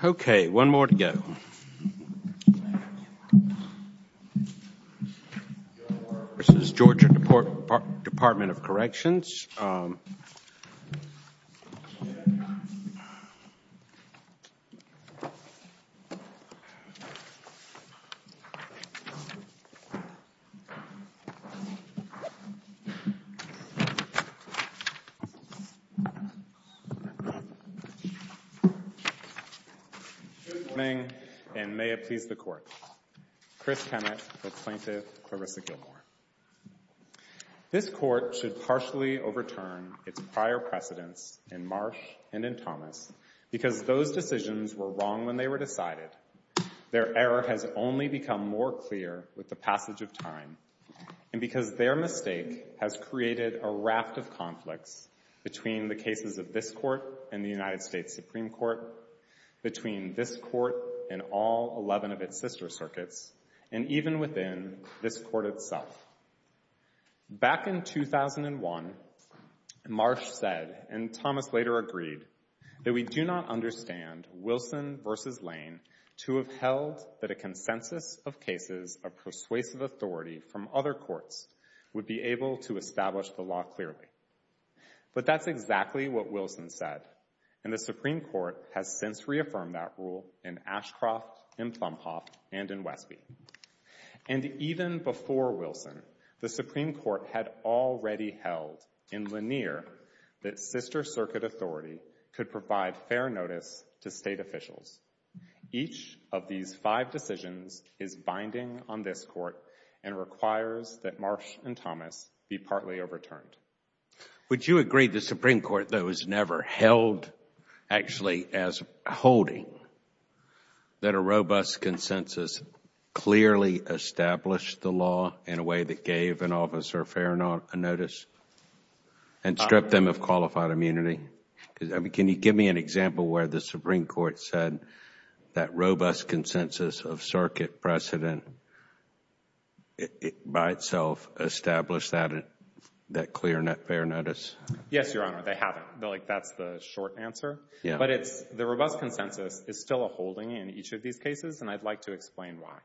Gilmore v. Georgia Department of Corrections Good morning, and may it please the Court. Chris Kennett, the plaintiff, Clarissa Gilmore. This Court should partially overturn its prior precedents in Marsh and in Thomas because those decisions were wrong when they were decided. Their error has only become more clear with the passage of time, and because their mistake has created a raft of conflicts between the cases of this Court and the United States Supreme Court, between this Court and all 11 of its sister circuits, and even within this Court itself. Back in 2001, Marsh said, and Thomas later agreed, that we do not understand Wilson v. Lane to have held that a consensus of cases of persuasive authority from other courts would be able to establish the law clearly. But that's exactly what Wilson said, and the Supreme Court has since reaffirmed that rule in Ashcroft, in Plumhoff, and in Wesby. And even before Wilson, the Supreme Court had already held in Lanier that sister circuit authority could provide fair notice to State officials. Each of these five decisions is binding on this Court and requires that Marsh and Thomas be partly overturned. Would you agree the Supreme Court, though, has never held actually as holding that a robust consensus clearly established the law in a way that gave an officer fair notice and stripped them of qualified immunity? Can you give me an example where the Supreme Court said that robust consensus of circuit precedent by itself established that clear and fair notice? Yes, Your Honor, they haven't. That's the short answer. But the robust consensus is still a holding in each of these cases, and I'd like to explain why.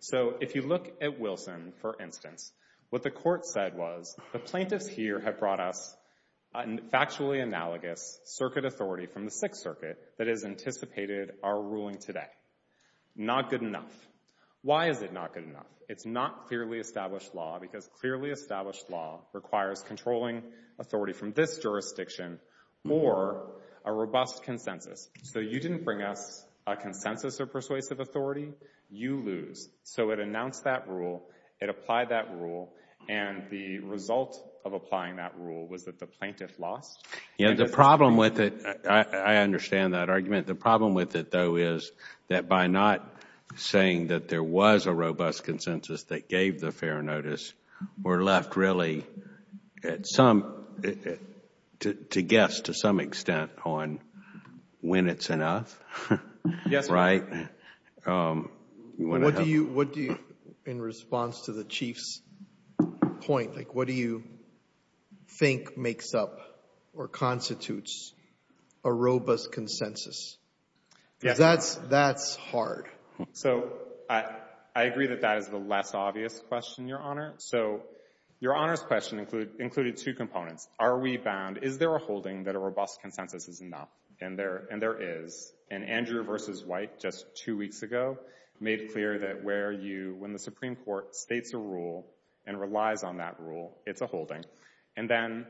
So if you look at Wilson, for instance, what the Court said was, the plaintiffs here have brought us factually analogous circuit authority from the Sixth Circuit that has anticipated our ruling today. Not good enough. Why is it not good enough? It's not clearly established law because clearly established law requires controlling authority from this jurisdiction or a robust consensus. So you didn't bring us a consensus or persuasive authority, you lose. So it announced that rule, it applied that rule, and the result of applying that rule was that the plaintiff lost. Yeah, the problem with it, I understand that argument. The problem with it, though, is that by not saying that there was a robust consensus that gave the fair notice, we're left really at some, to guess to some extent, on when it's enough, right? What do you, in response to the Chief's point, what do you think makes up or constitutes a robust consensus? That's hard. So I agree that that is the less obvious question, Your Honor. So Your Honor's question included two components. Are we bound, is there a holding that a robust consensus is enough? And there is. And Andrew versus White just two weeks ago made clear that where you, when the Supreme Court states a rule and relies on that rule, it's a holding. And then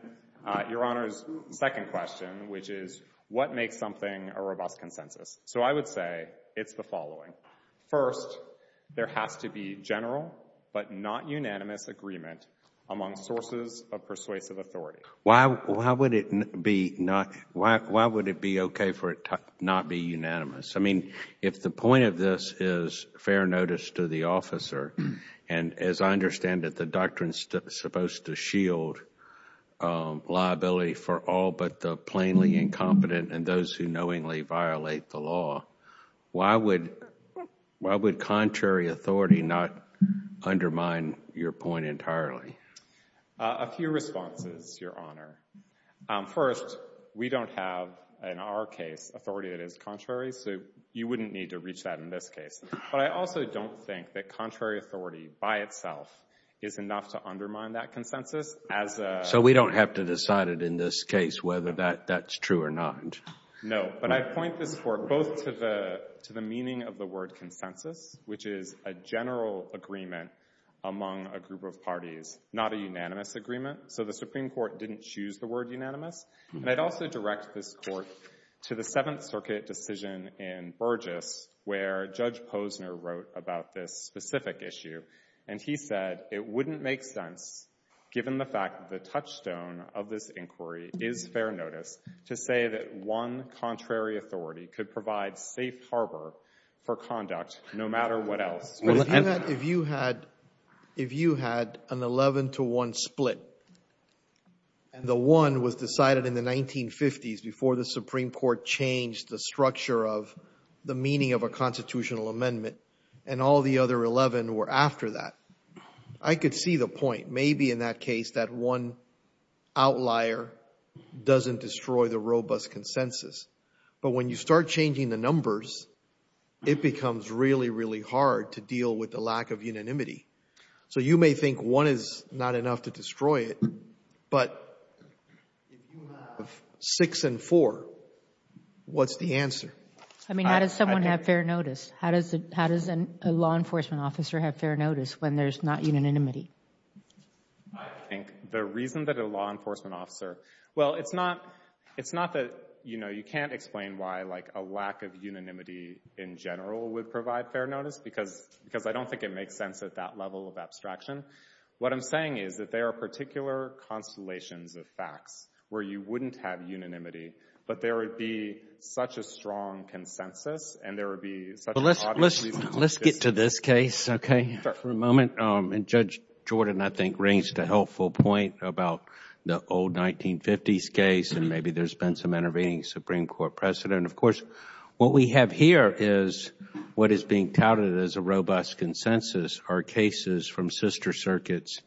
Your Honor's second question, which is what makes something a robust consensus? So I would say it's the following. First, there has to be general but not unanimous agreement among sources of persuasive authority. Why would it be okay for it not be unanimous? I mean, if the point of this is fair notice to the officer, and as I understand it, the doctrine is supposed to shield liability for all but the plainly incompetent and those who knowingly violate the law, why would contrary authority not undermine your point entirely? A few responses, Your Honor. First, we don't have, in our case, authority that is contrary, so you wouldn't need to reach that in this case. But I also don't think that contrary authority by itself is enough to undermine that consensus as a— So we don't have to decide it in this case whether that's true or not. No, but I point this work both to the meaning of the word consensus, which is a general agreement among a group of parties, not a unanimous agreement. So the Supreme Court didn't choose the word unanimous. And I'd also direct this Court to the Seventh Circuit decision in Burgess, where Judge Posner wrote about this specific issue, and he said it wouldn't make sense, given the fact that the touchstone of this inquiry is fair notice, to say that one contrary authority could provide safe harbor for conduct no matter what else. If you had an 11 to 1 split, and the 1 was decided in the 1950s before the Supreme Court changed the structure of the meaning of a constitutional amendment, and all the other 11 were after that, I could see the point. Maybe in that case that one outlier doesn't destroy the robust consensus. But when you start changing the numbers, it becomes really, really hard to deal with the lack of unanimity. So you may think one is not enough to destroy it, but if you have six and four, what's the answer? I mean, how does someone have fair notice? How does a law enforcement officer have fair notice when there's not unanimity? I think the reason that a law enforcement officer—well, it's not that, you know, I can't explain why, like, a lack of unanimity in general would provide fair notice, because I don't think it makes sense at that level of abstraction. What I'm saying is that there are particular constellations of facts where you wouldn't have unanimity, but there would be such a strong consensus, and there would be such an obvious reason to disagree. Let's get to this case, okay, for a moment. And Judge Jordan, I think, raised a helpful point about the old 1950s case, and maybe there's been some intervening Supreme Court precedent. Of course, what we have here is what is being touted as a robust consensus are cases from sister circuits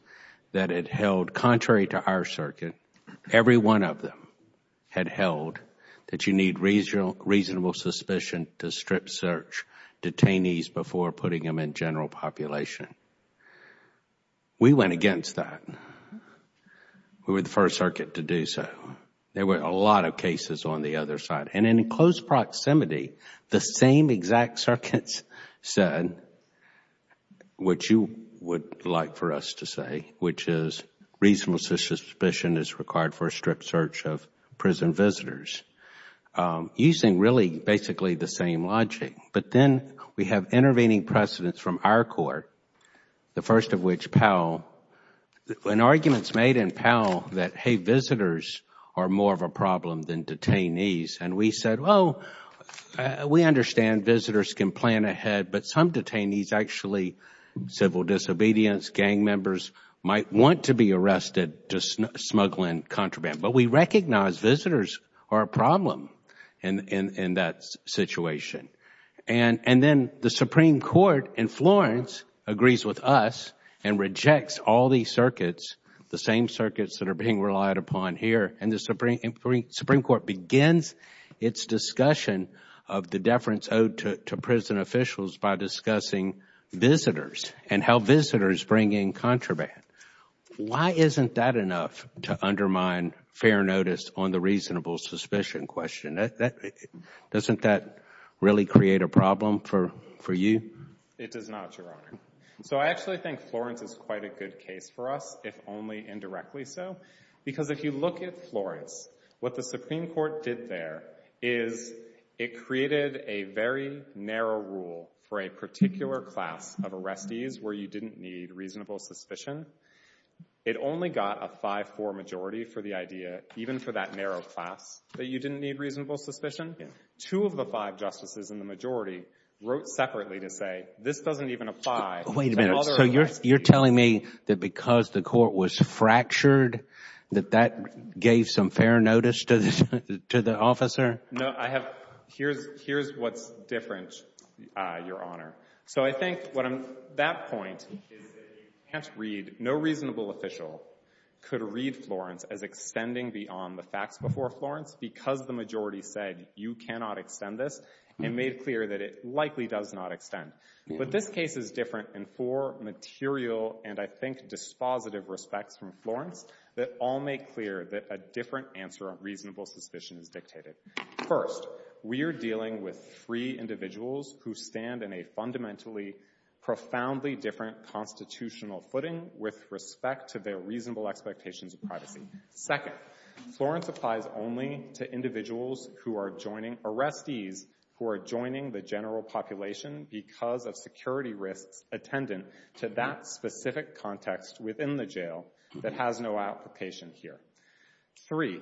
that had held, contrary to our circuit, every one of them had held that you need reasonable suspicion to strip search detainees before putting them in general population. We went against that. We were the first circuit to do so. There were a lot of cases on the other side. And in close proximity, the same exact circuits said what you would like for us to say, which is reasonable suspicion is required for a stripped search of prison visitors. Using really basically the same logic. But then we have intervening precedents from our court, the first of which Powell, and arguments made in Powell that, hey, visitors are more of a problem than detainees. And we said, well, we understand visitors can plan ahead, but some detainees actually, civil disobedience, gang members, might want to be arrested to smuggle in contraband. But we recognize visitors are a problem in that situation. And then the Supreme Court in Florence agrees with us and rejects all these circuits, the same circuits that are being relied upon here, and the Supreme Court begins its discussion of the deference owed to prison officials by discussing visitors and how visitors bring in contraband. Why isn't that enough to undermine fair notice on the reasonable suspicion question? Doesn't that really create a problem for you? It does not, Your Honor. So I actually think Florence is quite a good case for us, if only indirectly so. Because if you look at Florence, what the Supreme Court did there is it created a very narrow rule for a particular class of arrestees where you didn't need reasonable suspicion. It only got a 5-4 majority for the idea, even for that narrow class, that you didn't need reasonable suspicion. Two of the five justices in the majority wrote separately to say, this doesn't even apply to other arrestees. Wait a minute. So you're telling me that because the court was fractured, that that gave some fair notice to the officer? No. Here's what's different, Your Honor. So I think that point is that no reasonable official could read Florence as extending beyond the facts before Florence because the majority said, you cannot extend this, and made clear that it likely does not extend. But this case is different in four material and, I think, dispositive respects from Florence that all make clear that a different answer on reasonable suspicion is dictated. First, we are dealing with three individuals who stand in a fundamentally, profoundly different constitutional footing with respect to their reasonable expectations of privacy. Second, Florence applies only to individuals who are joining, arrestees who are joining the general population because of security risks attendant to that specific context within the jail that has no application here. Three,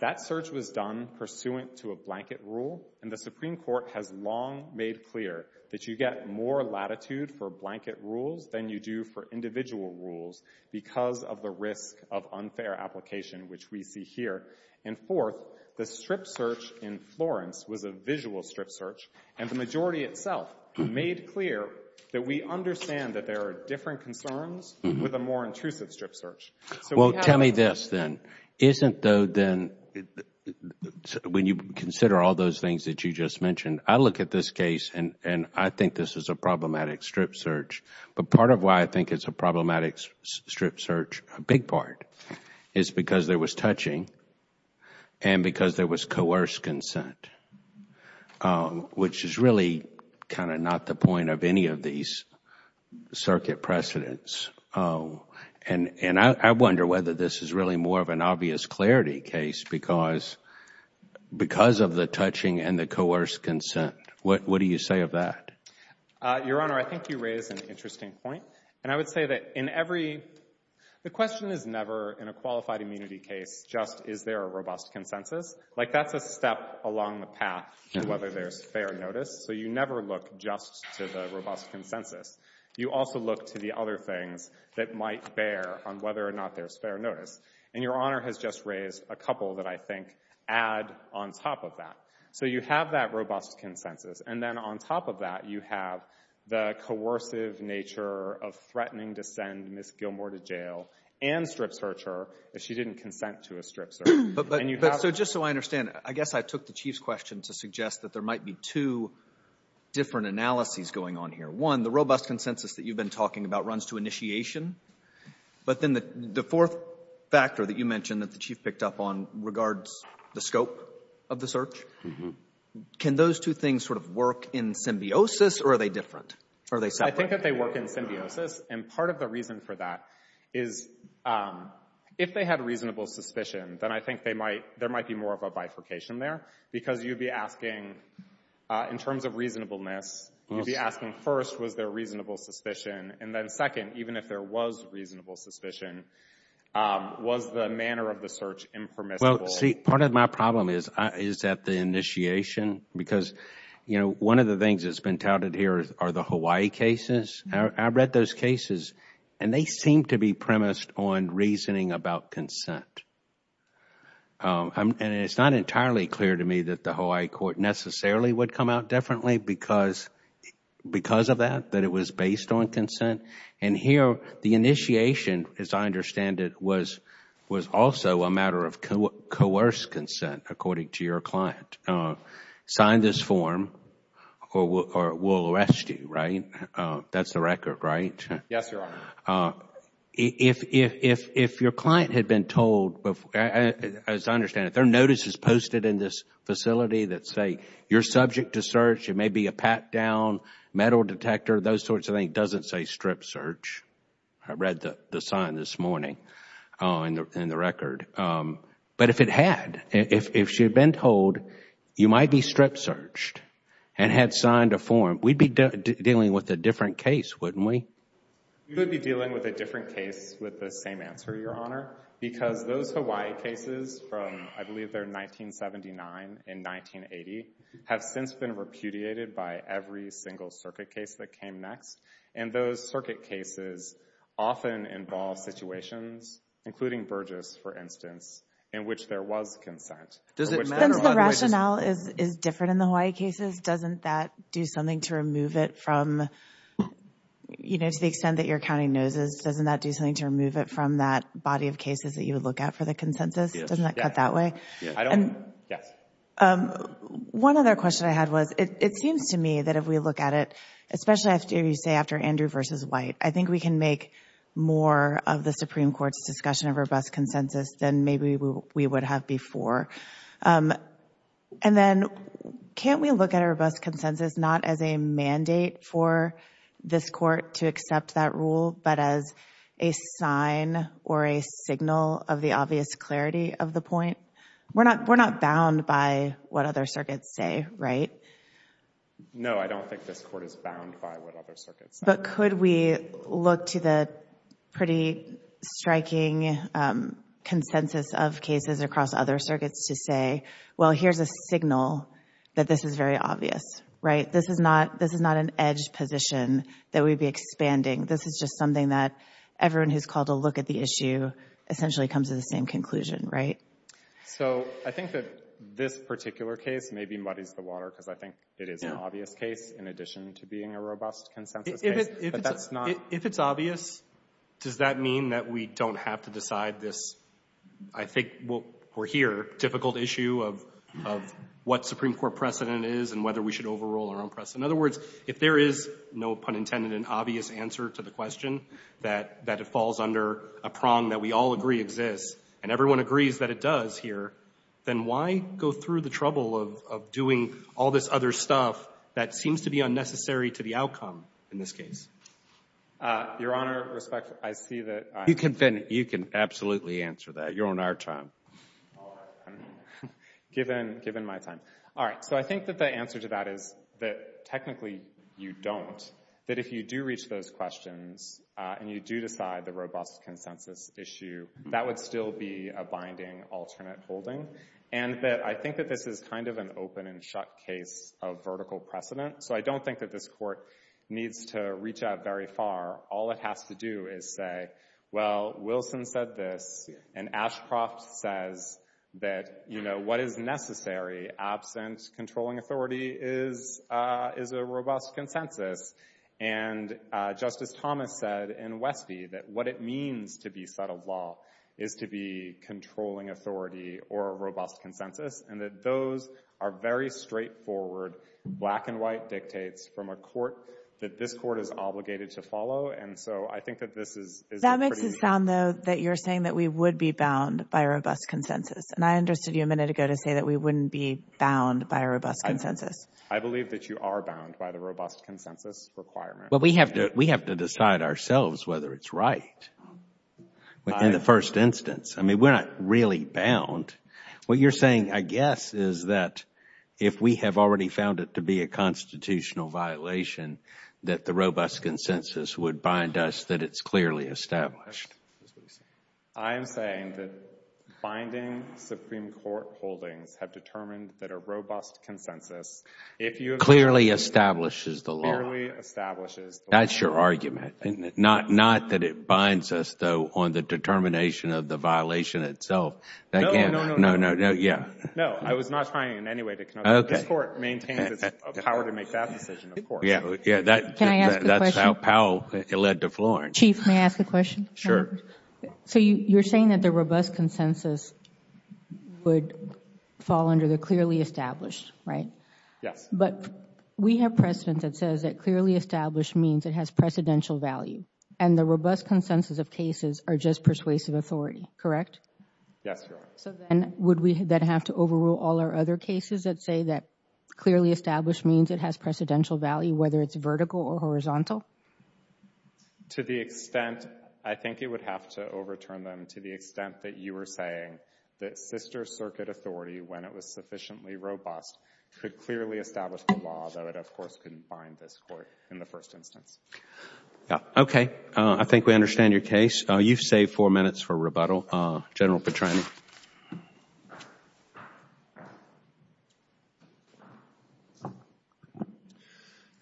that search was done pursuant to a blanket rule, and the Supreme Court has long made clear that you get more latitude for blanket rules than you do for individual rules because of the risk of unfair application, which we see here. And fourth, the strip search in Florence was a visual strip search, and the majority itself made clear that we understand that there are different concerns with a more intrusive strip search. Well, tell me this then. Isn't though then, when you consider all those things that you just mentioned, I look at this case and I think this is a problematic strip search, but part of why I think it is a problematic strip search, a big part, is because there was touching and because there was coerced consent, which is really kind of not the point of any of these circuit precedents. And I wonder whether this is really more of an obvious clarity case because of the touching and the coerced consent. What do you say of that? Your Honor, I think you raise an interesting point. And I would say that in every, the question is never in a qualified immunity case just is there a robust consensus. Like that's a step along the path to whether there's fair notice. So you never look just to the robust consensus. You also look to the other things that might bear on whether or not there's fair notice. And Your Honor has just raised a couple that I think add on top of that. So you have that robust consensus. And then on top of that, you have the coercive nature of threatening to send Ms. Gilmour to jail and strip search her if she didn't consent to a strip search. So just so I understand, I guess I took the Chief's question to suggest that there might be two different analyses going on here. One, the robust consensus that you've been talking about runs to initiation. But then the fourth factor that you mentioned that the Chief picked up on regards the scope of the search. Can those two things sort of work in symbiosis or are they different? I think that they work in symbiosis. And part of the reason for that is if they had reasonable suspicion, then I think there might be more of a bifurcation there. Because you'd be asking in terms of reasonableness, you'd be asking first, was there reasonable suspicion? And then second, even if there was reasonable suspicion, was the manner of the search impermissible? Well, see, part of my problem is at the initiation. Because, you know, one of the things that's been touted here are the Hawaii cases. I've read those cases and they seem to be premised on reasoning about consent. And it's not entirely clear to me that the Hawaii court necessarily would come out differently because of that, that it was based on consent. And here, the initiation, as I understand it, was also a matter of coerced consent, according to your client. Sign this form or we'll arrest you, right? That's the record, right? Yes, Your Honor. So, if your client had been told, as I understand it, their notice is posted in this facility that say, you're subject to search, it may be a pat down, metal detector, those sorts of things, it doesn't say strip search. I read the sign this morning in the record. But if it had, if she had been told, you might be strip searched and had signed a form, we'd be dealing with a different case, wouldn't we? We would be dealing with a different case with the same answer, Your Honor, because those Hawaii cases from, I believe they're 1979 and 1980, have since been repudiated by every single circuit case that came next. And those circuit cases often involve situations, including Burgess, for instance, in which there was consent. Does it matter? Since the rationale is different in the Hawaii cases, doesn't that do something to remove it from, you know, to the extent that you're counting noses, doesn't that do something to remove it from that body of cases that you would look at for the consensus? Yes. Doesn't that cut that way? Yes. I don't, yes. One other question I had was, it seems to me that if we look at it, especially after you say, after Andrew v. White, I think we can make more of the Supreme Court's discussion of robust consensus than maybe we would have before. And then, can't we look at a robust mandate for this court to accept that rule, but as a sign or a signal of the obvious clarity of the point? We're not, we're not bound by what other circuits say, right? No, I don't think this court is bound by what other circuits say. But could we look to the pretty striking consensus of cases across other circuits to say, well, here's a signal that this is very obvious, right? This is not, this is not an edge position that we'd be expanding. This is just something that everyone who's called to look at the issue essentially comes to the same conclusion, right? So I think that this particular case maybe muddies the water, because I think it is an obvious case in addition to being a robust consensus case, but that's not... If it's obvious, does that mean that we don't have to decide this, I think, we'll, we're here, difficult issue of what Supreme Court precedent is and whether we should overrule our own precedent. In other words, if there is, no pun intended, an obvious answer to the question, that it falls under a prong that we all agree exists, and everyone agrees that it does here, then why go through the trouble of doing all this other stuff that seems to be unnecessary to the outcome in this case? Your Honor, respect, I see that... I'm convinced you can absolutely answer that. You're on our time. Given my time. All right. So I think that the answer to that is that technically you don't, that if you do reach those questions and you do decide the robust consensus issue, that would still be a binding alternate holding. And that I think that this is kind of an open and shut case of vertical precedent. So I don't think that this court needs to reach out very far. All it has to do is say, well, Wilson said this, and Ashcroft says that, you know, what is necessary absent controlling authority is, is a robust consensus. And Justice Thomas said in Westby that what it means to be settled law is to be controlling authority or a robust consensus, and that those are very straightforward black and white dictates from a court that this court is obligated to follow. And so I think that this is... That makes it sound, though, that you're saying that we would be bound by a robust consensus. And I understood you a minute ago to say that we wouldn't be bound by a robust consensus. I believe that you are bound by the robust consensus requirement. Well, we have to, we have to decide ourselves whether it's right in the first instance. I mean, we're not really bound. What you're saying, I guess, is that if we have already found it to be a constitutional violation, that the robust consensus would bind us, that it's clearly established. I am saying that binding Supreme Court holdings have determined that a robust consensus, if you have... Clearly establishes the law. Clearly establishes the law. That's your argument, isn't it? Not, not that it binds us, though, on the determination of the violation itself. No, no, no, no, no, no, yeah. No, I was not trying in any way to connote that. This Court maintains it's power to make that decision, of course. Yeah, that's how Powell led to Florence. Chief, may I ask a question? Sure. So, you're saying that the robust consensus would fall under the clearly established, right? Yes. But we have precedent that says that clearly established means it has precedential value. And the robust consensus of cases are just persuasive authority, correct? Yes, Your Honor. So then, would we then have to overrule all our other cases that say that clearly established means it has precedential value, whether it's vertical or horizontal? To the extent, I think it would have to overturn them to the extent that you were saying that sister circuit authority, when it was sufficiently robust, could clearly establish the law, though it of course couldn't bind this Court in the first instance. Yeah, okay. I think we understand your case. You've saved four minutes for rebuttal. General Petrani.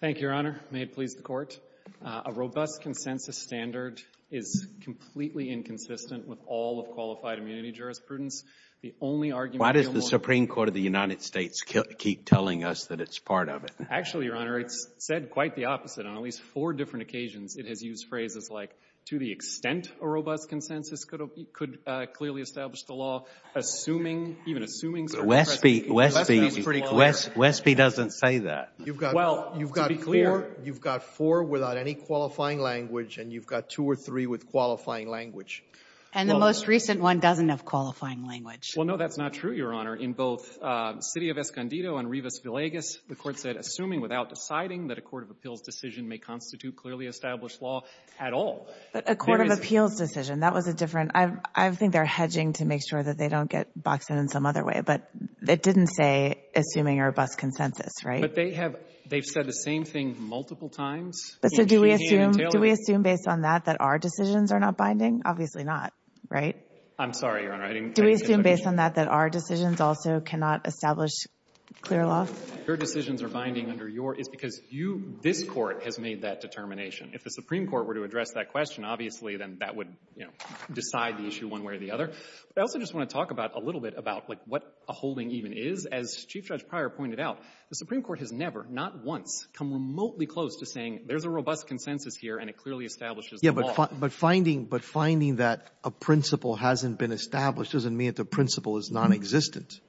Thank you, Your Honor. May it please the Court. A robust consensus standard is completely inconsistent with all of qualified immunity jurisprudence. The only argument— Why does the Supreme Court of the United States keep telling us that it's part of it? Actually, Your Honor, it's said quite the opposite on at least four different occasions. It has used phrases like, to the extent a robust consensus could clearly establish the law, assuming—even assuming— Westby. Westby. Westby's pretty clever. Westby doesn't say that. Well, to be clear— You've got four without any qualifying language, and you've got two or three with qualifying language. And the most recent one doesn't have qualifying language. Well, no, that's not true, Your Honor. In both City of Escondido and Rivas Villegas, the Court said, assuming without deciding that a court of appeals decision may constitute clearly established law at all. A court of appeals decision. That was a different—I think they're hedging to make sure that they don't get boxed in in some other way. But it didn't say, assuming a robust consensus, right? But they have—they've said the same thing multiple times. So do we assume— In treehand and tailwind. Do we assume, based on that, that our decisions are not binding? Obviously not, right? I'm sorry, Your Honor. I didn't— Do we assume, based on that, that our decisions also cannot establish clear law? Your decisions are binding under your—it's because you, this Court, has made that determination. If the Supreme Court were to address that question, obviously then that would, you know, decide the issue one way or the other. But I also just want to talk about—a little bit about, like, what a holding even is. As Chief Judge Pryor pointed out, the Supreme Court has never, not once, come remotely close to saying there's a robust consensus here and it clearly establishes the law. Yeah, but finding—but finding that a principle hasn't been established doesn't mean that the principle is nonexistent.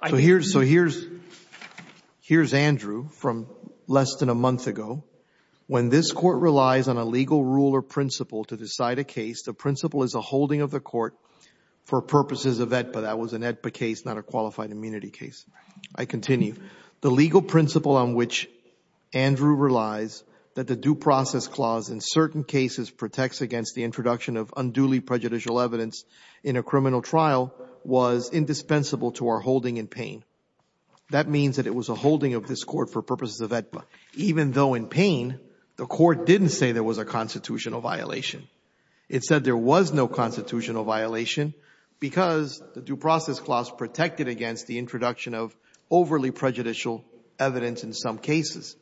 I— So here's—so here's—here's Andrew from less than a month ago. When this Court relies on a legal rule or principle to decide a case, the principle is a holding of the court for purposes of AEDPA—that was an AEDPA case, not a qualified immunity case. I continue. The legal principle on which Andrew relies, that the due process clause in certain cases protects against the introduction of unduly prejudicial evidence in a criminal trial, was indispensable to our holding in Payne. That means that it was a holding of this Court for purposes of AEDPA, even though in Payne, the Court didn't say there was a constitutional violation. It said there was no constitutional violation because the due process clause protected against the introduction of overly prejudicial evidence in some cases.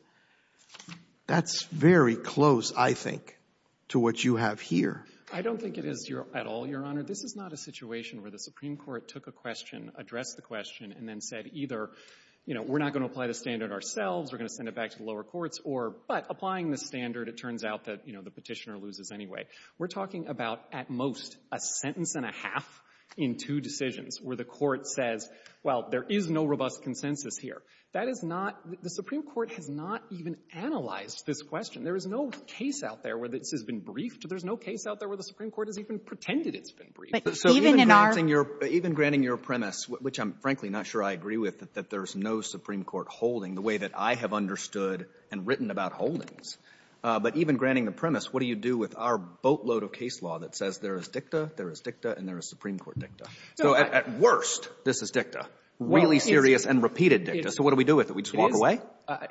That's very close, I think, to what you have here. I don't think it is at all, Your Honor. This is not a situation where the Supreme Court took a question, addressed the question, and then said either, you know, we're not going to apply the standard ourselves, we're going to send it back to the lower courts, or, but, applying the standard, it turns out that, you know, the Petitioner loses anyway. We're talking about, at most, a sentence and a half in two decisions where the Court says, well, there is no robust consensus here. That is not — the Supreme Court has not even analyzed this question. There is no case out there where this has been briefed. There is no case out there where the Supreme Court has even pretended it's been briefed. So even granting your premise, which I'm frankly not sure I agree with, that there is no Supreme Court holding the way that I have understood and written about holdings, but even granting the premise, what do you do with our boatload of case law that says there is dicta, there is dicta, and there is Supreme Court dicta? So at worst, this is dicta, really serious and repeated dicta. So what do we do with it? We just walk away?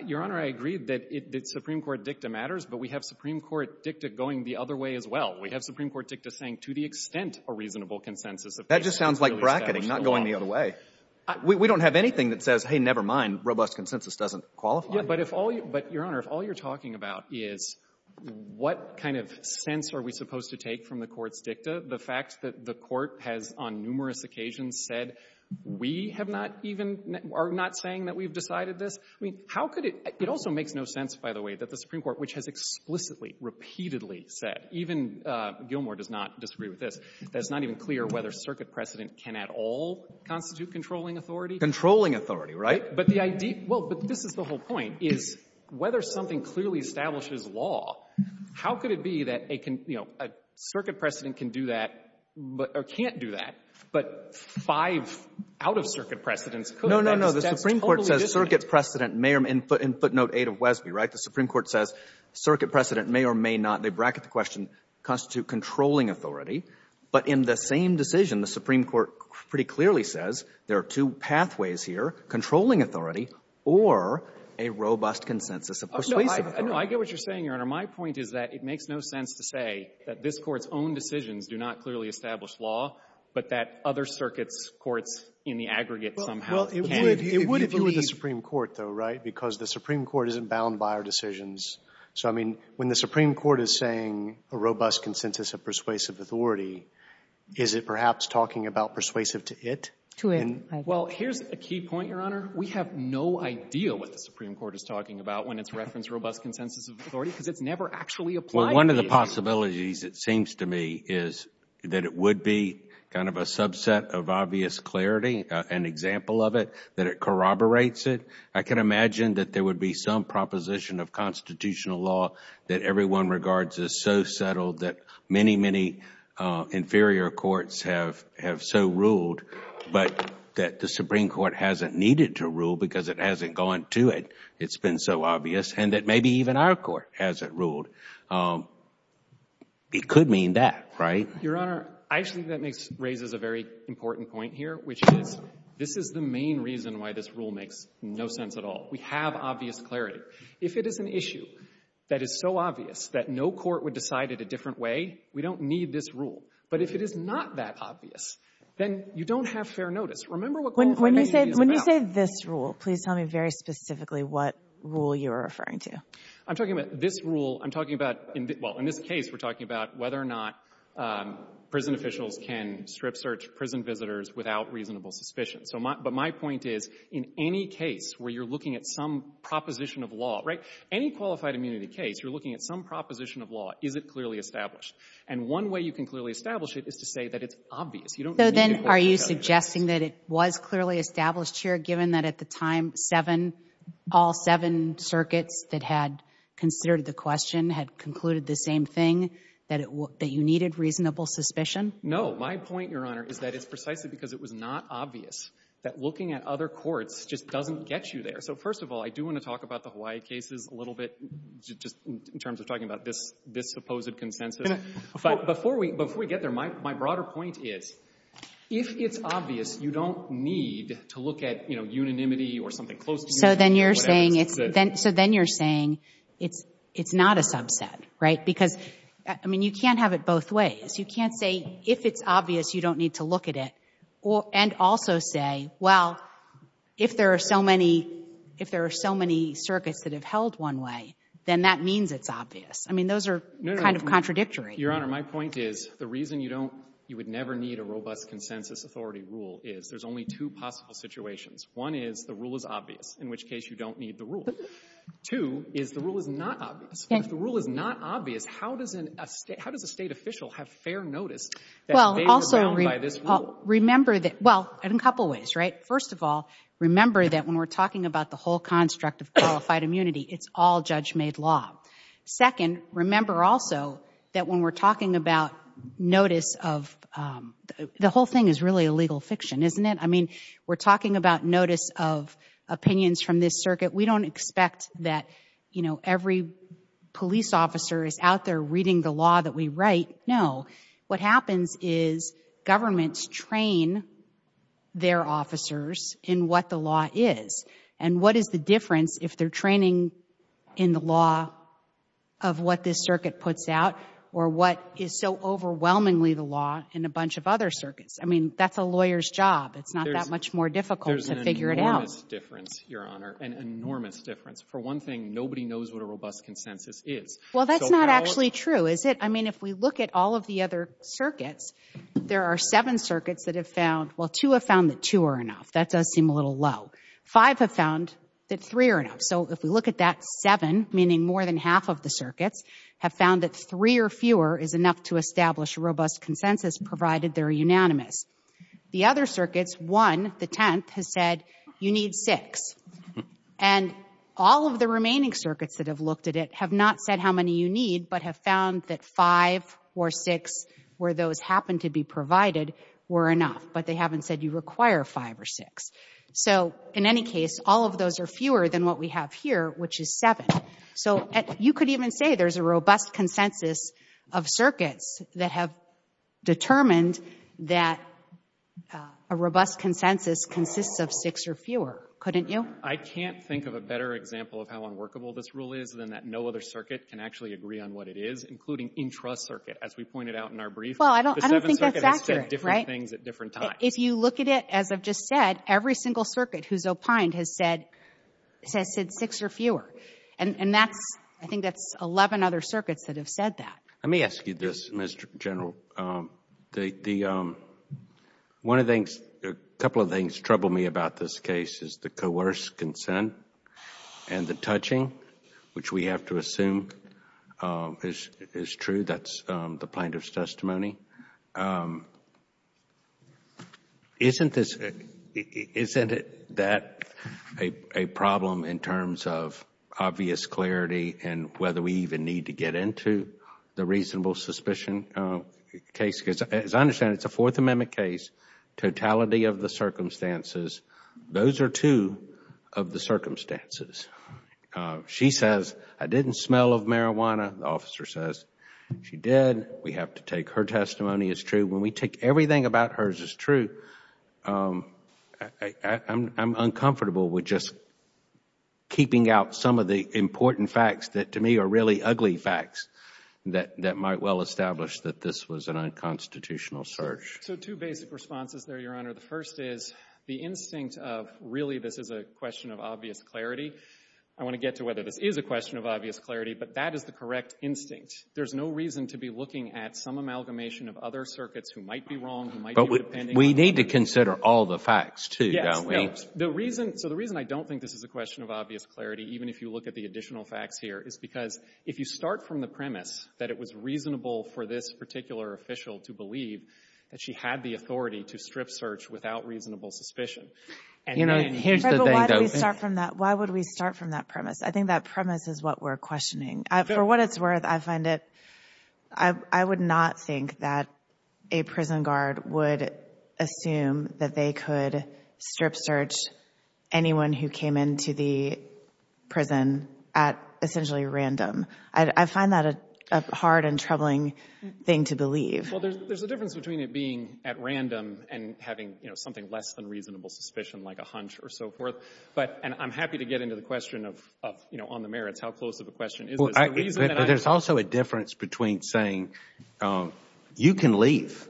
Your Honor, I agree that Supreme Court dicta matters, but we have Supreme Court dicta going the other way as well. We have Supreme Court dicta saying, to the extent a reasonable consensus of — That just sounds like bracketing, not going the other way. We don't have anything that says, hey, never mind, robust consensus doesn't qualify. Yeah. But if all — but, Your Honor, if all you're talking about is what kind of sense are we supposed to take from the Court's dicta, the fact that the Court has on numerous occasions said we have not even — are not saying that we've decided this, I mean, how could it — it also makes no sense, by the way, that the Supreme Court, which has explicitly, repeatedly said, even Gilmore does not disagree with this, that it's not even clear whether circuit precedent can at all constitute controlling authority. Controlling authority, right? But the idea — well, but this is the whole point, is whether something clearly establishes law, how could it be that a — you know, a circuit precedent can do that or can't do that, but five out-of-circuit precedents could? No, no, no. The Supreme Court says circuit precedent may or may not be in footnote 8 of Wesby, right? The Supreme Court says circuit precedent may or may not, they bracket the question, constitute controlling authority, but in the same decision, the Supreme Court pretty clearly says there are two pathways here, controlling authority or a robust consensus of persuasive authority. Oh, no, I — no, I get what you're saying, Your Honor. My point is that it makes no sense to say that this Court's own decisions do not clearly establish law, but that other circuits' courts in the aggregate somehow can. Well, it would — it would if you were the Supreme Court, though, right? Because the Supreme Court isn't bound by our decisions. So, I mean, when the Supreme Court is saying a robust consensus of persuasive authority, is it perhaps talking about persuasive to it? To it, I think. Well, here's a key point, Your Honor. We have no idea what the Supreme Court is talking about when it's referenced robust consensus of authority, because it's never actually applied to it. Well, one of the possibilities, it seems to me, is that it would be kind of a subset of obvious clarity, an example of it, that it corroborates it. I can imagine that there would be some proposition of constitutional law that everyone regards as so settled that many, many inferior courts have — have so ruled, but that the Supreme Court hasn't needed to rule because it hasn't gone to it, it's been so obvious, and that maybe even our court hasn't ruled. It could mean that, right? Your Honor, I actually think that makes — raises a very important point here, which is, this is the main reason why this rule makes no sense at all. We have obvious clarity. If it is an issue that is so obvious that no court would decide it a different way, we don't need this rule. But if it is not that obvious, then you don't have fair notice. Remember what — When you say — when you say this rule, please tell me very specifically what rule you're referring to. I'm talking about this rule. I'm talking about — well, in this case, we're talking about whether or not prison visitors without reasonable suspicion. So my — but my point is, in any case where you're looking at some proposition of law, right, any qualified immunity case, you're looking at some proposition of law, is it clearly established? And one way you can clearly establish it is to say that it's obvious. You don't need a court to tell you that. So then, are you suggesting that it was clearly established here, given that at the time, seven — all seven circuits that had considered the question had concluded the same thing, that it — that you needed reasonable suspicion? No. My point, Your Honor, is that it's precisely because it was not obvious that looking at other courts just doesn't get you there. So, first of all, I do want to talk about the Hawaii cases a little bit, just in terms of talking about this — this supposed consensus. But before we — before we get there, my — my broader point is, if it's obvious, you don't need to look at, you know, unanimity or something close to unanimity or whatever it is that's said. So then you're saying it's — it's not a subset, right? Because, I mean, you can't have it both ways. You can't say, if it's obvious, you don't need to look at it, or — and also say, well, if there are so many — if there are so many circuits that have held one way, then that means it's obvious. I mean, those are kind of contradictory. Your Honor, my point is, the reason you don't — you would never need a robust consensus authority rule is, there's only two possible situations. One is, the rule is obvious, in which case you don't need the rule. Two is, the rule is not obvious. If the rule is not obvious, how does a state — how does a state official have fair notice that they were bound by this rule? Well, also, remember that — well, in a couple ways, right? First of all, remember that when we're talking about the whole construct of qualified immunity, it's all judge-made law. Second, remember also that when we're talking about notice of — the whole thing is really a legal fiction, isn't it? I mean, we're talking about notice of opinions from this circuit. We don't expect that, you know, every police officer is out there reading the law that we write. No. What happens is, governments train their officers in what the law is. And what is the difference if they're training in the law of what this circuit puts out, or what is so overwhelmingly the law in a bunch of other circuits? I mean, that's a lawyer's job. It's not that much more difficult to figure it out. It's an enormous difference, Your Honor, an enormous difference. For one thing, nobody knows what a robust consensus is. Well, that's not actually true, is it? I mean, if we look at all of the other circuits, there are seven circuits that have found — well, two have found that two are enough. That does seem a little low. Five have found that three are enough. So if we look at that seven, meaning more than half of the circuits, have found that three or fewer is enough to establish a robust consensus, provided they're unanimous. The other circuits, one, the 10th, has said, you need six. And all of the remaining circuits that have looked at it have not said how many you need, but have found that five or six, where those happen to be provided, were enough. But they haven't said you require five or six. So in any case, all of those are fewer than what we have here, which is seven. So you could even say there's a robust consensus of circuits that have determined that a robust consensus consists of six or fewer, couldn't you? I can't think of a better example of how unworkable this rule is than that no other circuit can actually agree on what it is, including intra-circuit, as we pointed out in our brief. Well, I don't think that's accurate. The Seventh Circuit has said different things at different times. If you look at it, as I've just said, every single circuit who's opined has said six or fewer. And I think that's 11 other circuits that have said that. Let me ask you this, Mr. General. One of the things, a couple of things, trouble me about this case is the coerced consent and the touching, which we have to assume is true. That's the plaintiff's testimony. Isn't this, isn't that a problem in terms of obvious clarity and whether we even need to get into the reasonable suspicion case? Because as I understand it, it's a Fourth Amendment case, totality of the circumstances. Those are two of the circumstances. She says, I didn't smell of marijuana. The officer says, she did. We have to take her testimony as true. When we take everything about hers as true, I'm uncomfortable with just keeping out some of the important facts that to me are really ugly facts that might well establish that this was an unconstitutional search. So, two basic responses there, Your Honor. The first is the instinct of really this is a question of obvious clarity. I want to get to whether this is a question of obvious clarity, but that is the correct instinct. There's no reason to be looking at some amalgamation of other circuits who might be wrong, who might be dependent. But we need to consider all the facts, too, don't we? So, the reason I don't think this is a question of obvious clarity, even if you look at the additional facts here, is because if you start from the premise that it was reasonable for this particular official to believe that she had the authority to strip search without reasonable suspicion. And here's the thing, though. But why do we start from that? Why would we start from that premise? I think that premise is what we're questioning. For what it's worth, I find it, I would not think that a prison guard would assume that they could strip search anyone who came into the prison at essentially random. I find that a hard and troubling thing to believe. Well, there's a difference between it being at random and having, you know, something less than reasonable suspicion, like a hunch or so forth. But and I'm happy to get into the question of, you know, on the merits, how close of a question is this? The reason that I Well, there's also a difference between saying, you can leave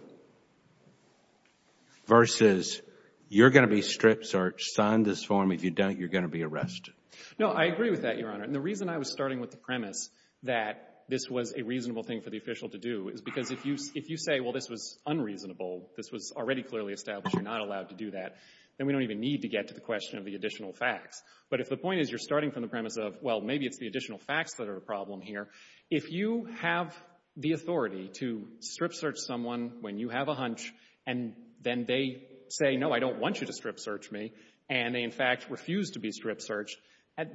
versus you're going to be stripped search, sign this form, if you don't, you're going to be arrested. No, I agree with that, Your Honor. And the reason I was starting with the premise that this was a reasonable thing for the official to do is because if you say, well, this was unreasonable, this was already clearly established, you're not allowed to do that, then we don't even need to get to the question of the additional facts. But if the point is you're starting from the premise of, well, maybe it's the additional facts that are a problem here. If you have the authority to strip search someone when you have a hunch, and then they say, no, I don't want you to strip search me, and they, in fact, refuse to be strip searched,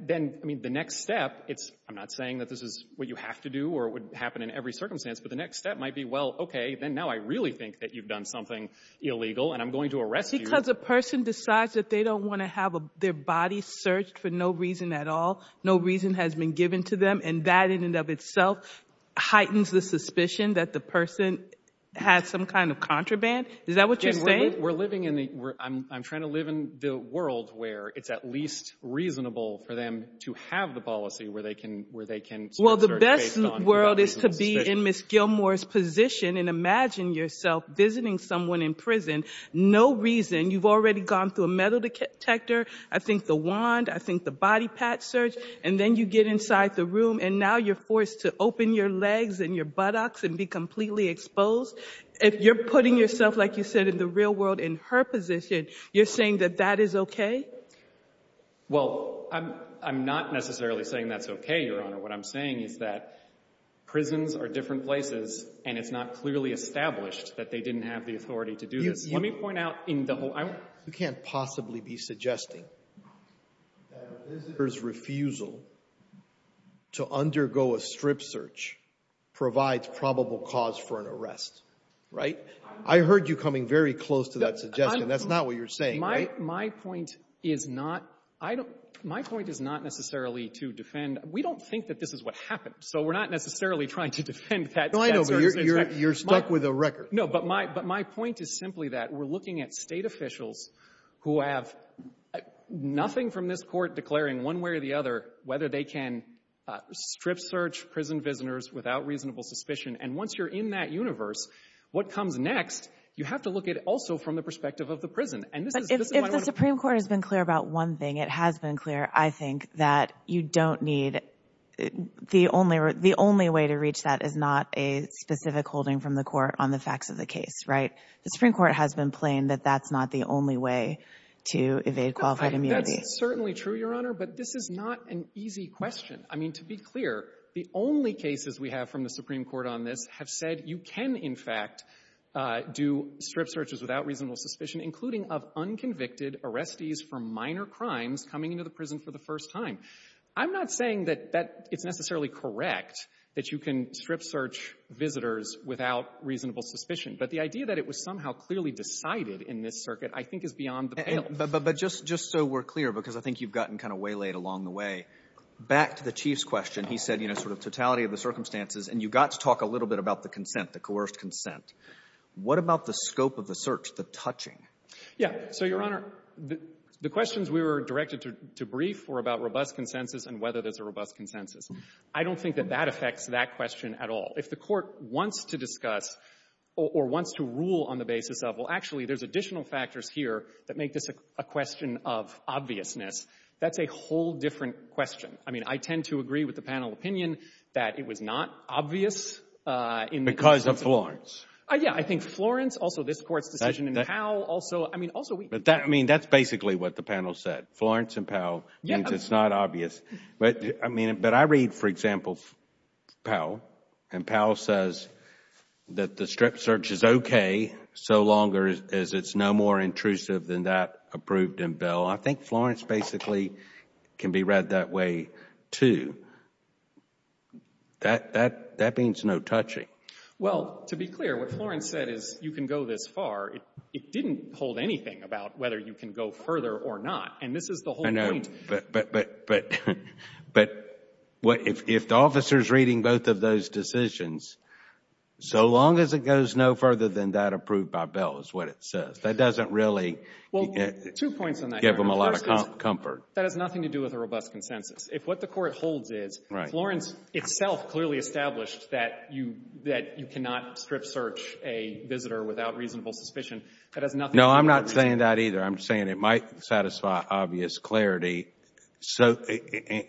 then, I mean, the next step, it's, I'm not saying that this is what you have to do or would happen in every circumstance, but the next step might be, well, okay, then now I really think that you've done something illegal and I'm going to arrest you. Because a person decides that they don't want to have their body searched for no reason at all, no reason has been given to them, and that in and of itself heightens the suspicion that the person had some kind of contraband? Is that what you're saying? We're living in the, I'm trying to live in the world where it's at least reasonable for them to have the policy where they can strip search based on reasonable suspicion. Well, the best world is to be in Ms. Gilmour's position and imagine yourself visiting someone in prison, no reason, you've already gone through a metal detector, I think the wand, I think the body patch search, and then you get inside the room and now you're forced to open your legs and your buttocks and be completely exposed. If you're putting yourself, like you said, in the real world in her position, you're saying that that is okay? Well, I'm not necessarily saying that's okay, Your Honor. What I'm saying is that prisons are different places and it's not clearly established that they didn't have the authority to do this. Let me point out in the whole, I want, You can't possibly be suggesting that a visitor's refusal to undergo a strip search provides probable cause for an arrest, right? I heard you coming very close to that suggestion. That's not what you're saying, right? My point is not, I don't, my point is not necessarily to defend, we don't think that this is what happened, so we're not necessarily trying to defend that search and attack. No, I know, but you're stuck with a record. No, but my, but my point is simply that we're looking at state officials who have nothing from this court declaring one way or the other whether they can strip search prison visitors without reasonable suspicion. And once you're in that universe, what comes next, you have to look at it also from the perspective of the prison. But if the Supreme Court has been clear about one thing, it has been clear, I think, that you don't need, the only way to reach that is not a specific holding from the court on the facts of the case, right? The Supreme Court has been plain that that's not the only way to evade qualified immunity. That's certainly true, Your Honor, but this is not an easy question. I mean, to be clear, the only cases we have from the Supreme Court on this have said you can, in fact, do strip searches without reasonable suspicion, including of unconvicted arrestees for minor crimes coming into the prison for the first time. I'm not saying that that, it's necessarily correct that you can strip search visitors without reasonable suspicion. But the idea that it was somehow clearly decided in this circuit, I think, is beyond the pale. But just so we're clear, because I think you've gotten kind of waylaid along the way, back to the Chief's question, he said, you know, sort of totality of the circumstances, and you got to talk a little bit about the consent, the coerced consent. What about the scope of the search, the touching? Yeah. So, Your Honor, the questions we were directed to brief were about robust consensus and whether there's a robust consensus. I don't think that that affects that question at all. If the court wants to discuss or wants to rule on the basis of, well, actually, there's additional factors here that make this a question of obviousness, that's a whole different question. I mean, I tend to agree with the panel opinion that it was not obvious in the Because of Florence. Yeah, I think Florence, also this Court's decision in Powell, also, I mean, also we But that, I mean, that's basically what the panel said. Florence and Powell means it's not obvious. But, I mean, but I read, for example, Powell, and Powell says that the strip search is okay so long as it's no more intrusive than that approved in Bell. I think Florence basically can be read that way, too. That means no touching. Well, to be clear, what Florence said is you can go this far. It didn't hold anything about whether you can go further or not. And this is the whole point. But if the officer's reading both of those decisions, so long as it goes no further than that approved by Bell is what it says. That doesn't really give them a lot of comfort. That has nothing to do with a robust consensus. If what the Court holds is Florence itself clearly established that you cannot strip search a visitor without reasonable suspicion, that has nothing to do with it. No, I'm not saying that either. I'm saying it might satisfy obvious clarity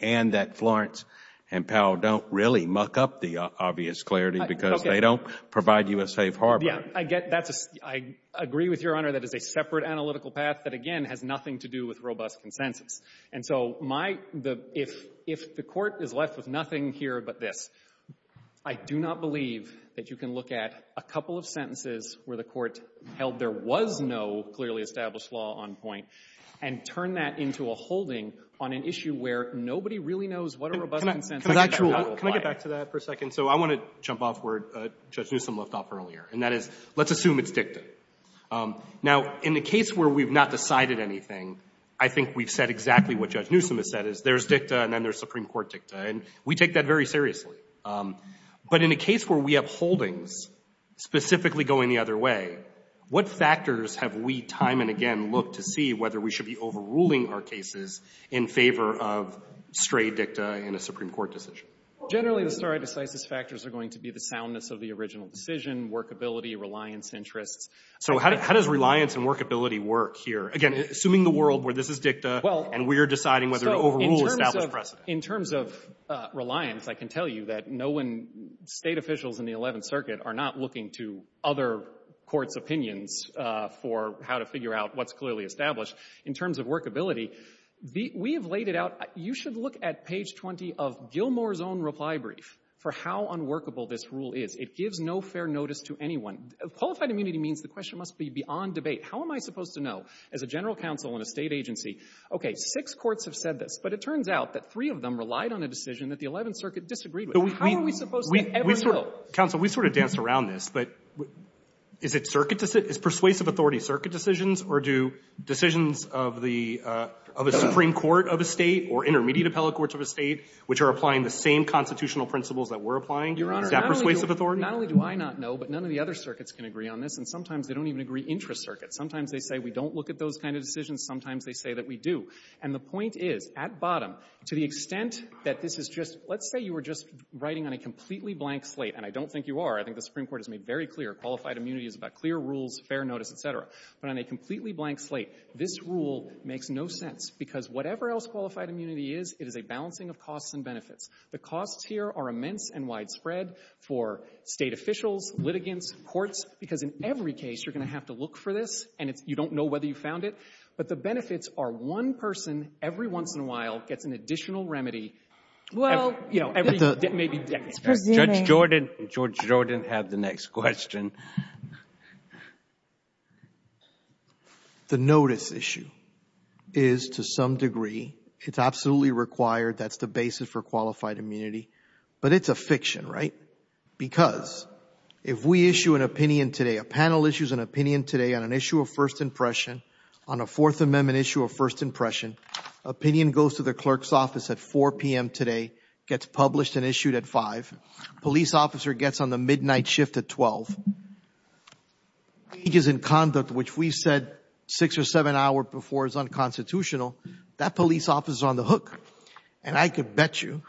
and that Florence and Powell don't really muck up the obvious clarity because they don't provide you a safe harbor. I get that. I agree with Your Honor that it's a separate analytical path that, again, has nothing to do with robust consensus. And so if the Court is left with nothing here but this, I do not believe that you can look at a couple of sentences where the Court held there was no clearly established law on point and turn that into a holding on an issue where nobody really knows what a robust consensus or not will apply. Can I get back to that for a second? So I want to jump off where Judge Newsom left off earlier, and that is let's assume it's dicta. Now, in the case where we've not decided anything, I think we've said exactly what Judge Newsom has said, is there's dicta and then there's Supreme Court dicta. And we take that very seriously. But in a case where we have holdings specifically going the other way, what factors have we time and again looked to see whether we should be overruling our cases in favor of stray dicta in a Supreme Court decision? Generally, the stare decisis factors are going to be the soundness of the original decision, workability, reliance interests. So how does reliance and workability work here? Again, assuming the world where this is dicta and we're deciding whether to overrule established precedent. In terms of reliance, I can tell you that no one, State officials in the Eleventh Circuit are not looking to other courts' opinions for how to figure out what's clearly established. In terms of workability, we have laid it out. You should look at page 20 of Gilmour's own reply brief for how unworkable this rule is. It gives no fair notice to anyone. Qualified immunity means the question must be beyond debate. How am I supposed to know as a general counsel in a State agency, okay, six courts have said this, but it turns out that three of them relied on a decision that the Eleventh Circuit disagreed with. How are we supposed to ever know? Counsel, we sort of danced around this, but is it circuit decision? Is persuasive authority circuit decisions or do decisions of a Supreme Court of a State or intermediate appellate courts of a State, which are applying the same constitutional principles that we're applying, is that persuasive authority? Your Honor, not only do I not know, but none of the other circuits can agree on this, and sometimes they don't even agree intra-circuit. Sometimes they say we don't look at those kind of decisions. Sometimes they say that we do. And the point is, at bottom, to the extent that this is just, let's say you were just writing on a completely blank slate, and I don't think you are. I think the Supreme Court has made very clear qualified immunity is about clear rules, fair notice, et cetera. But on a completely blank slate, this rule makes no sense because whatever else qualified immunity is, it is a balancing of costs and benefits. The costs here are immense and widespread for State officials, litigants, courts, because in every case you're going to have to look for this, and you don't know whether you found it. But the benefits are one person, every once in a while, gets an additional remedy. Well, you know, every maybe decade. Judge Jordan, Judge Jordan, have the next question. The notice issue is, to some degree, it's absolutely required. That's the basis for qualified immunity. But it's a fiction, right? Because if we issue an opinion today, a panel issues an opinion today on an issue of first impression, on a Fourth Amendment issue of first impression, opinion goes to the clerk's office at 4 p.m. today, gets published and issued at 5, police officer gets on the midnight shift at 12, changes in conduct, which we said six or seven hours before is unconstitutional, that police officer is on the hook. And I can bet you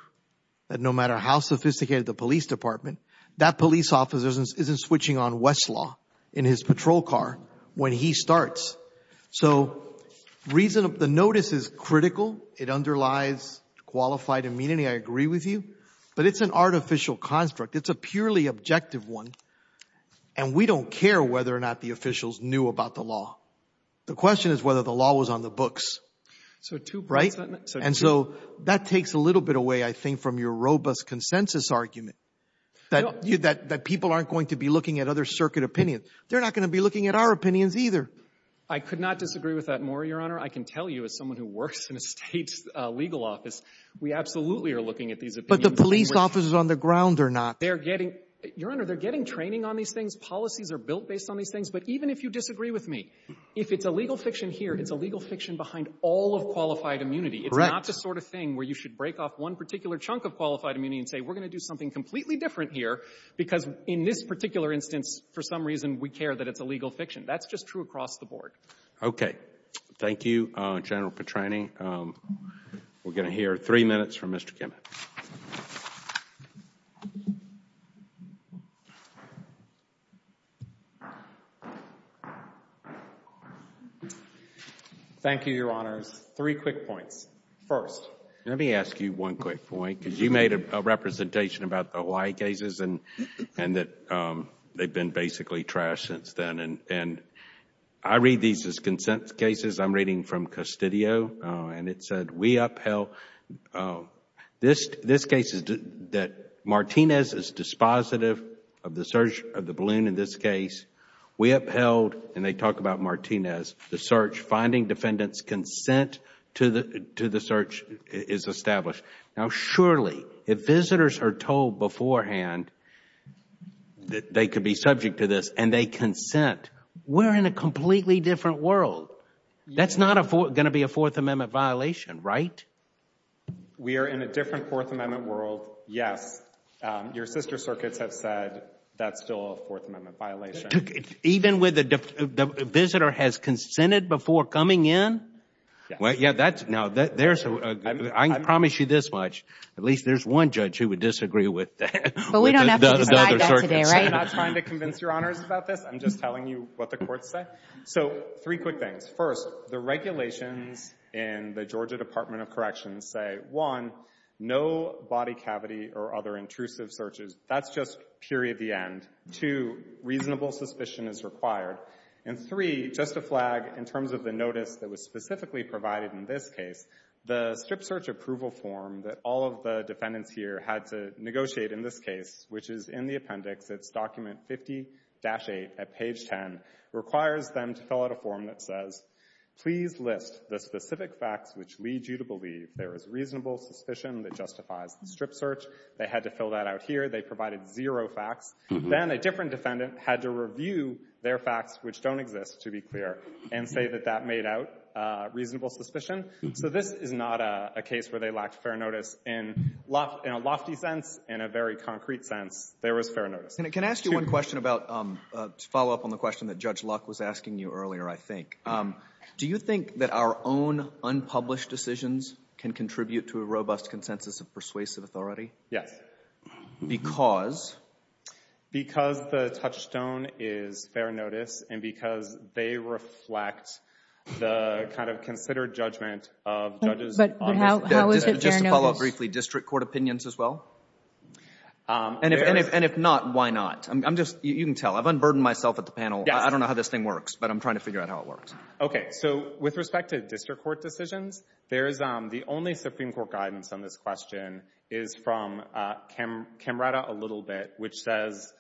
that no matter how sophisticated the police department, that police officer isn't switching on Westlaw in his patrol car when he starts. So the notice is critical. It underlies qualified immunity. I agree with you. But it's an artificial construct. It's a purely objective one. And we don't care whether or not the officials knew about the law. The question is whether the law was on the books. So two points. And so that takes a little bit away, I think, from your robust consensus argument that people aren't going to be looking at other circuit opinions. They're not going to be looking at our opinions either. I could not disagree with that more, Your Honor. I can tell you, as someone who works in a state legal office, we absolutely are looking at these opinions. But the police officers on the ground are not. They're getting, Your Honor, they're getting training on these things. Policies are built based on these things. But even if you disagree with me, if it's a legal fiction here, it's a legal fiction behind all of qualified immunity. Correct. It's not the sort of thing where you should break off one particular chunk of qualified It's completely different here. Because in this particular instance, for some reason, we care that it's a legal fiction. That's just true across the board. Okay. Thank you, General Petrani. We're going to hear three minutes from Mr. Kimmett. Thank you, Your Honors. Three quick points. First. Let me ask you one quick point. Because you made a representation about the Hawaii cases and that they've been basically trashed since then. I read these as consent cases. I'm reading from Custodio and it said, we upheld... this case is that Martinez is dispositive of the search of the balloon in this case. We upheld, and they talk about Martinez, the search. Finding defendant's consent to the search is established. Now, surely, if visitors are told beforehand that they could be subject to this and they consent, we're in a completely different world. That's not going to be a Fourth Amendment violation, right? We are in a different Fourth Amendment world, yes. Your sister circuits have said that's still a Fourth Amendment violation. Even when the visitor has consented before coming in? Well, yeah, that's... now, there's... I can promise you this much. At least there's one judge who would disagree with that. But we don't have to decide that today, right? I'm not trying to convince Your Honors about this. I'm just telling you what the courts say. So three quick things. First, the regulations in the Georgia Department of Corrections say, one, no body cavity or other intrusive searches. That's just period, the end. Two, reasonable suspicion is required. And three, just a flag in terms of the notice that was specifically provided in this case, the strip search approval form that all of the defendants here had to negotiate in this case, which is in the appendix, it's document 50-8 at page 10, requires them to fill out a form that says, please list the specific facts which lead you to believe there is reasonable suspicion that justifies the strip search. They had to fill that out here. They provided zero facts. Then a different defendant had to review their facts, which don't exist, to be clear, and say that that made out reasonable suspicion. So this is not a case where they lacked fair notice in a lofty sense. In a very concrete sense, there was fair notice. Can I ask you one question about, to follow up on the question that Judge Luck was asking you earlier, I think. Do you think that our own unpublished decisions can contribute to a robust consensus of persuasive authority? Yes. Because? Because the touchstone is fair notice, and because they reflect the kind of considered judgment of judges on this case. But how is it fair notice? Just to follow up briefly, district court opinions as well? And if not, why not? I'm just, you can tell, I've unburdened myself at the panel. I don't know how this thing works, but I'm trying to figure out how it works. Okay. So with respect to district court decisions, the only Supreme Court guidance on this question is from Camrata, a little bit, which says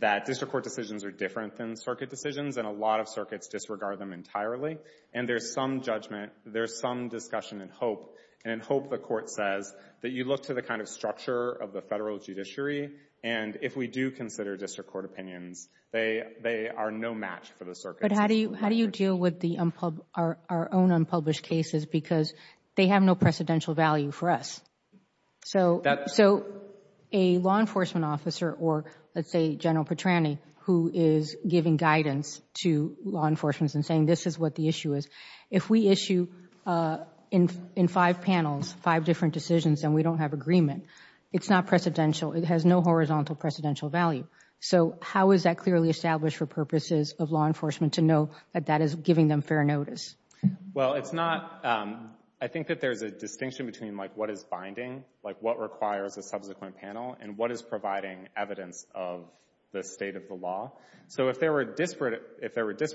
that district court decisions are different than circuit decisions, and a lot of circuits disregard them entirely. And there's some judgment, there's some discussion and hope, and in hope the court says that you look to the kind of structure of the federal judiciary, and if we do consider district court opinions, they are no match for the circuits. But how do you deal with our own unpublished cases, because they have no precedential value for us? So a law enforcement officer, or let's say General Petrani, who is giving guidance to law enforcement and saying this is what the issue is, if we issue in five panels, five different decisions, and we don't have agreement, it's not precedential, it has no horizontal precedential value. So how is that clearly established for purposes of law enforcement to know that that is giving them fair notice? Well, it's not, I think that there's a distinction between like what is binding, like what requires a subsequent panel, and what is providing evidence of the state of the law. So if there were disparate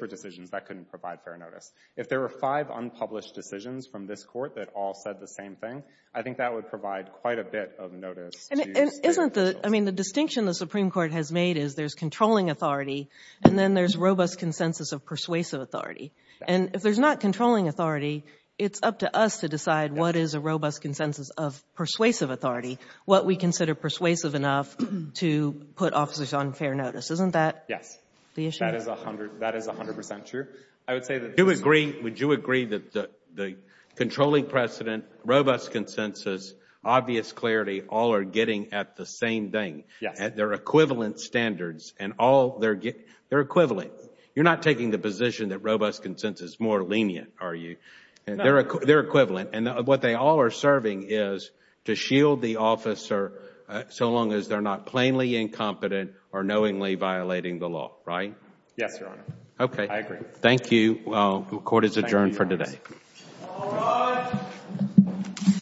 decisions, that couldn't provide fair notice. If there were five unpublished decisions from this court that all said the same thing, I think that would provide quite a bit of notice to the state officials. I mean, the distinction the Supreme Court has made is there's controlling authority, and then there's robust consensus of persuasive authority. And if there's not controlling authority, it's up to us to decide what is a robust consensus of persuasive authority, what we consider persuasive enough to put officers on fair notice. Isn't that the issue? That is 100 percent true. I would say that... Do you agree, would you agree that the controlling precedent, robust consensus, obvious clarity, all are getting at the same thing, at their equivalent standards, and all, they're equivalent. You're not taking the position that robust consensus is more lenient, are you? They're equivalent. And what they all are serving is to shield the officer so long as they're not plainly incompetent or knowingly violating the law, right? Yes, Your Honor. Okay. I agree. Thank you. Court is adjourned for today. All rise.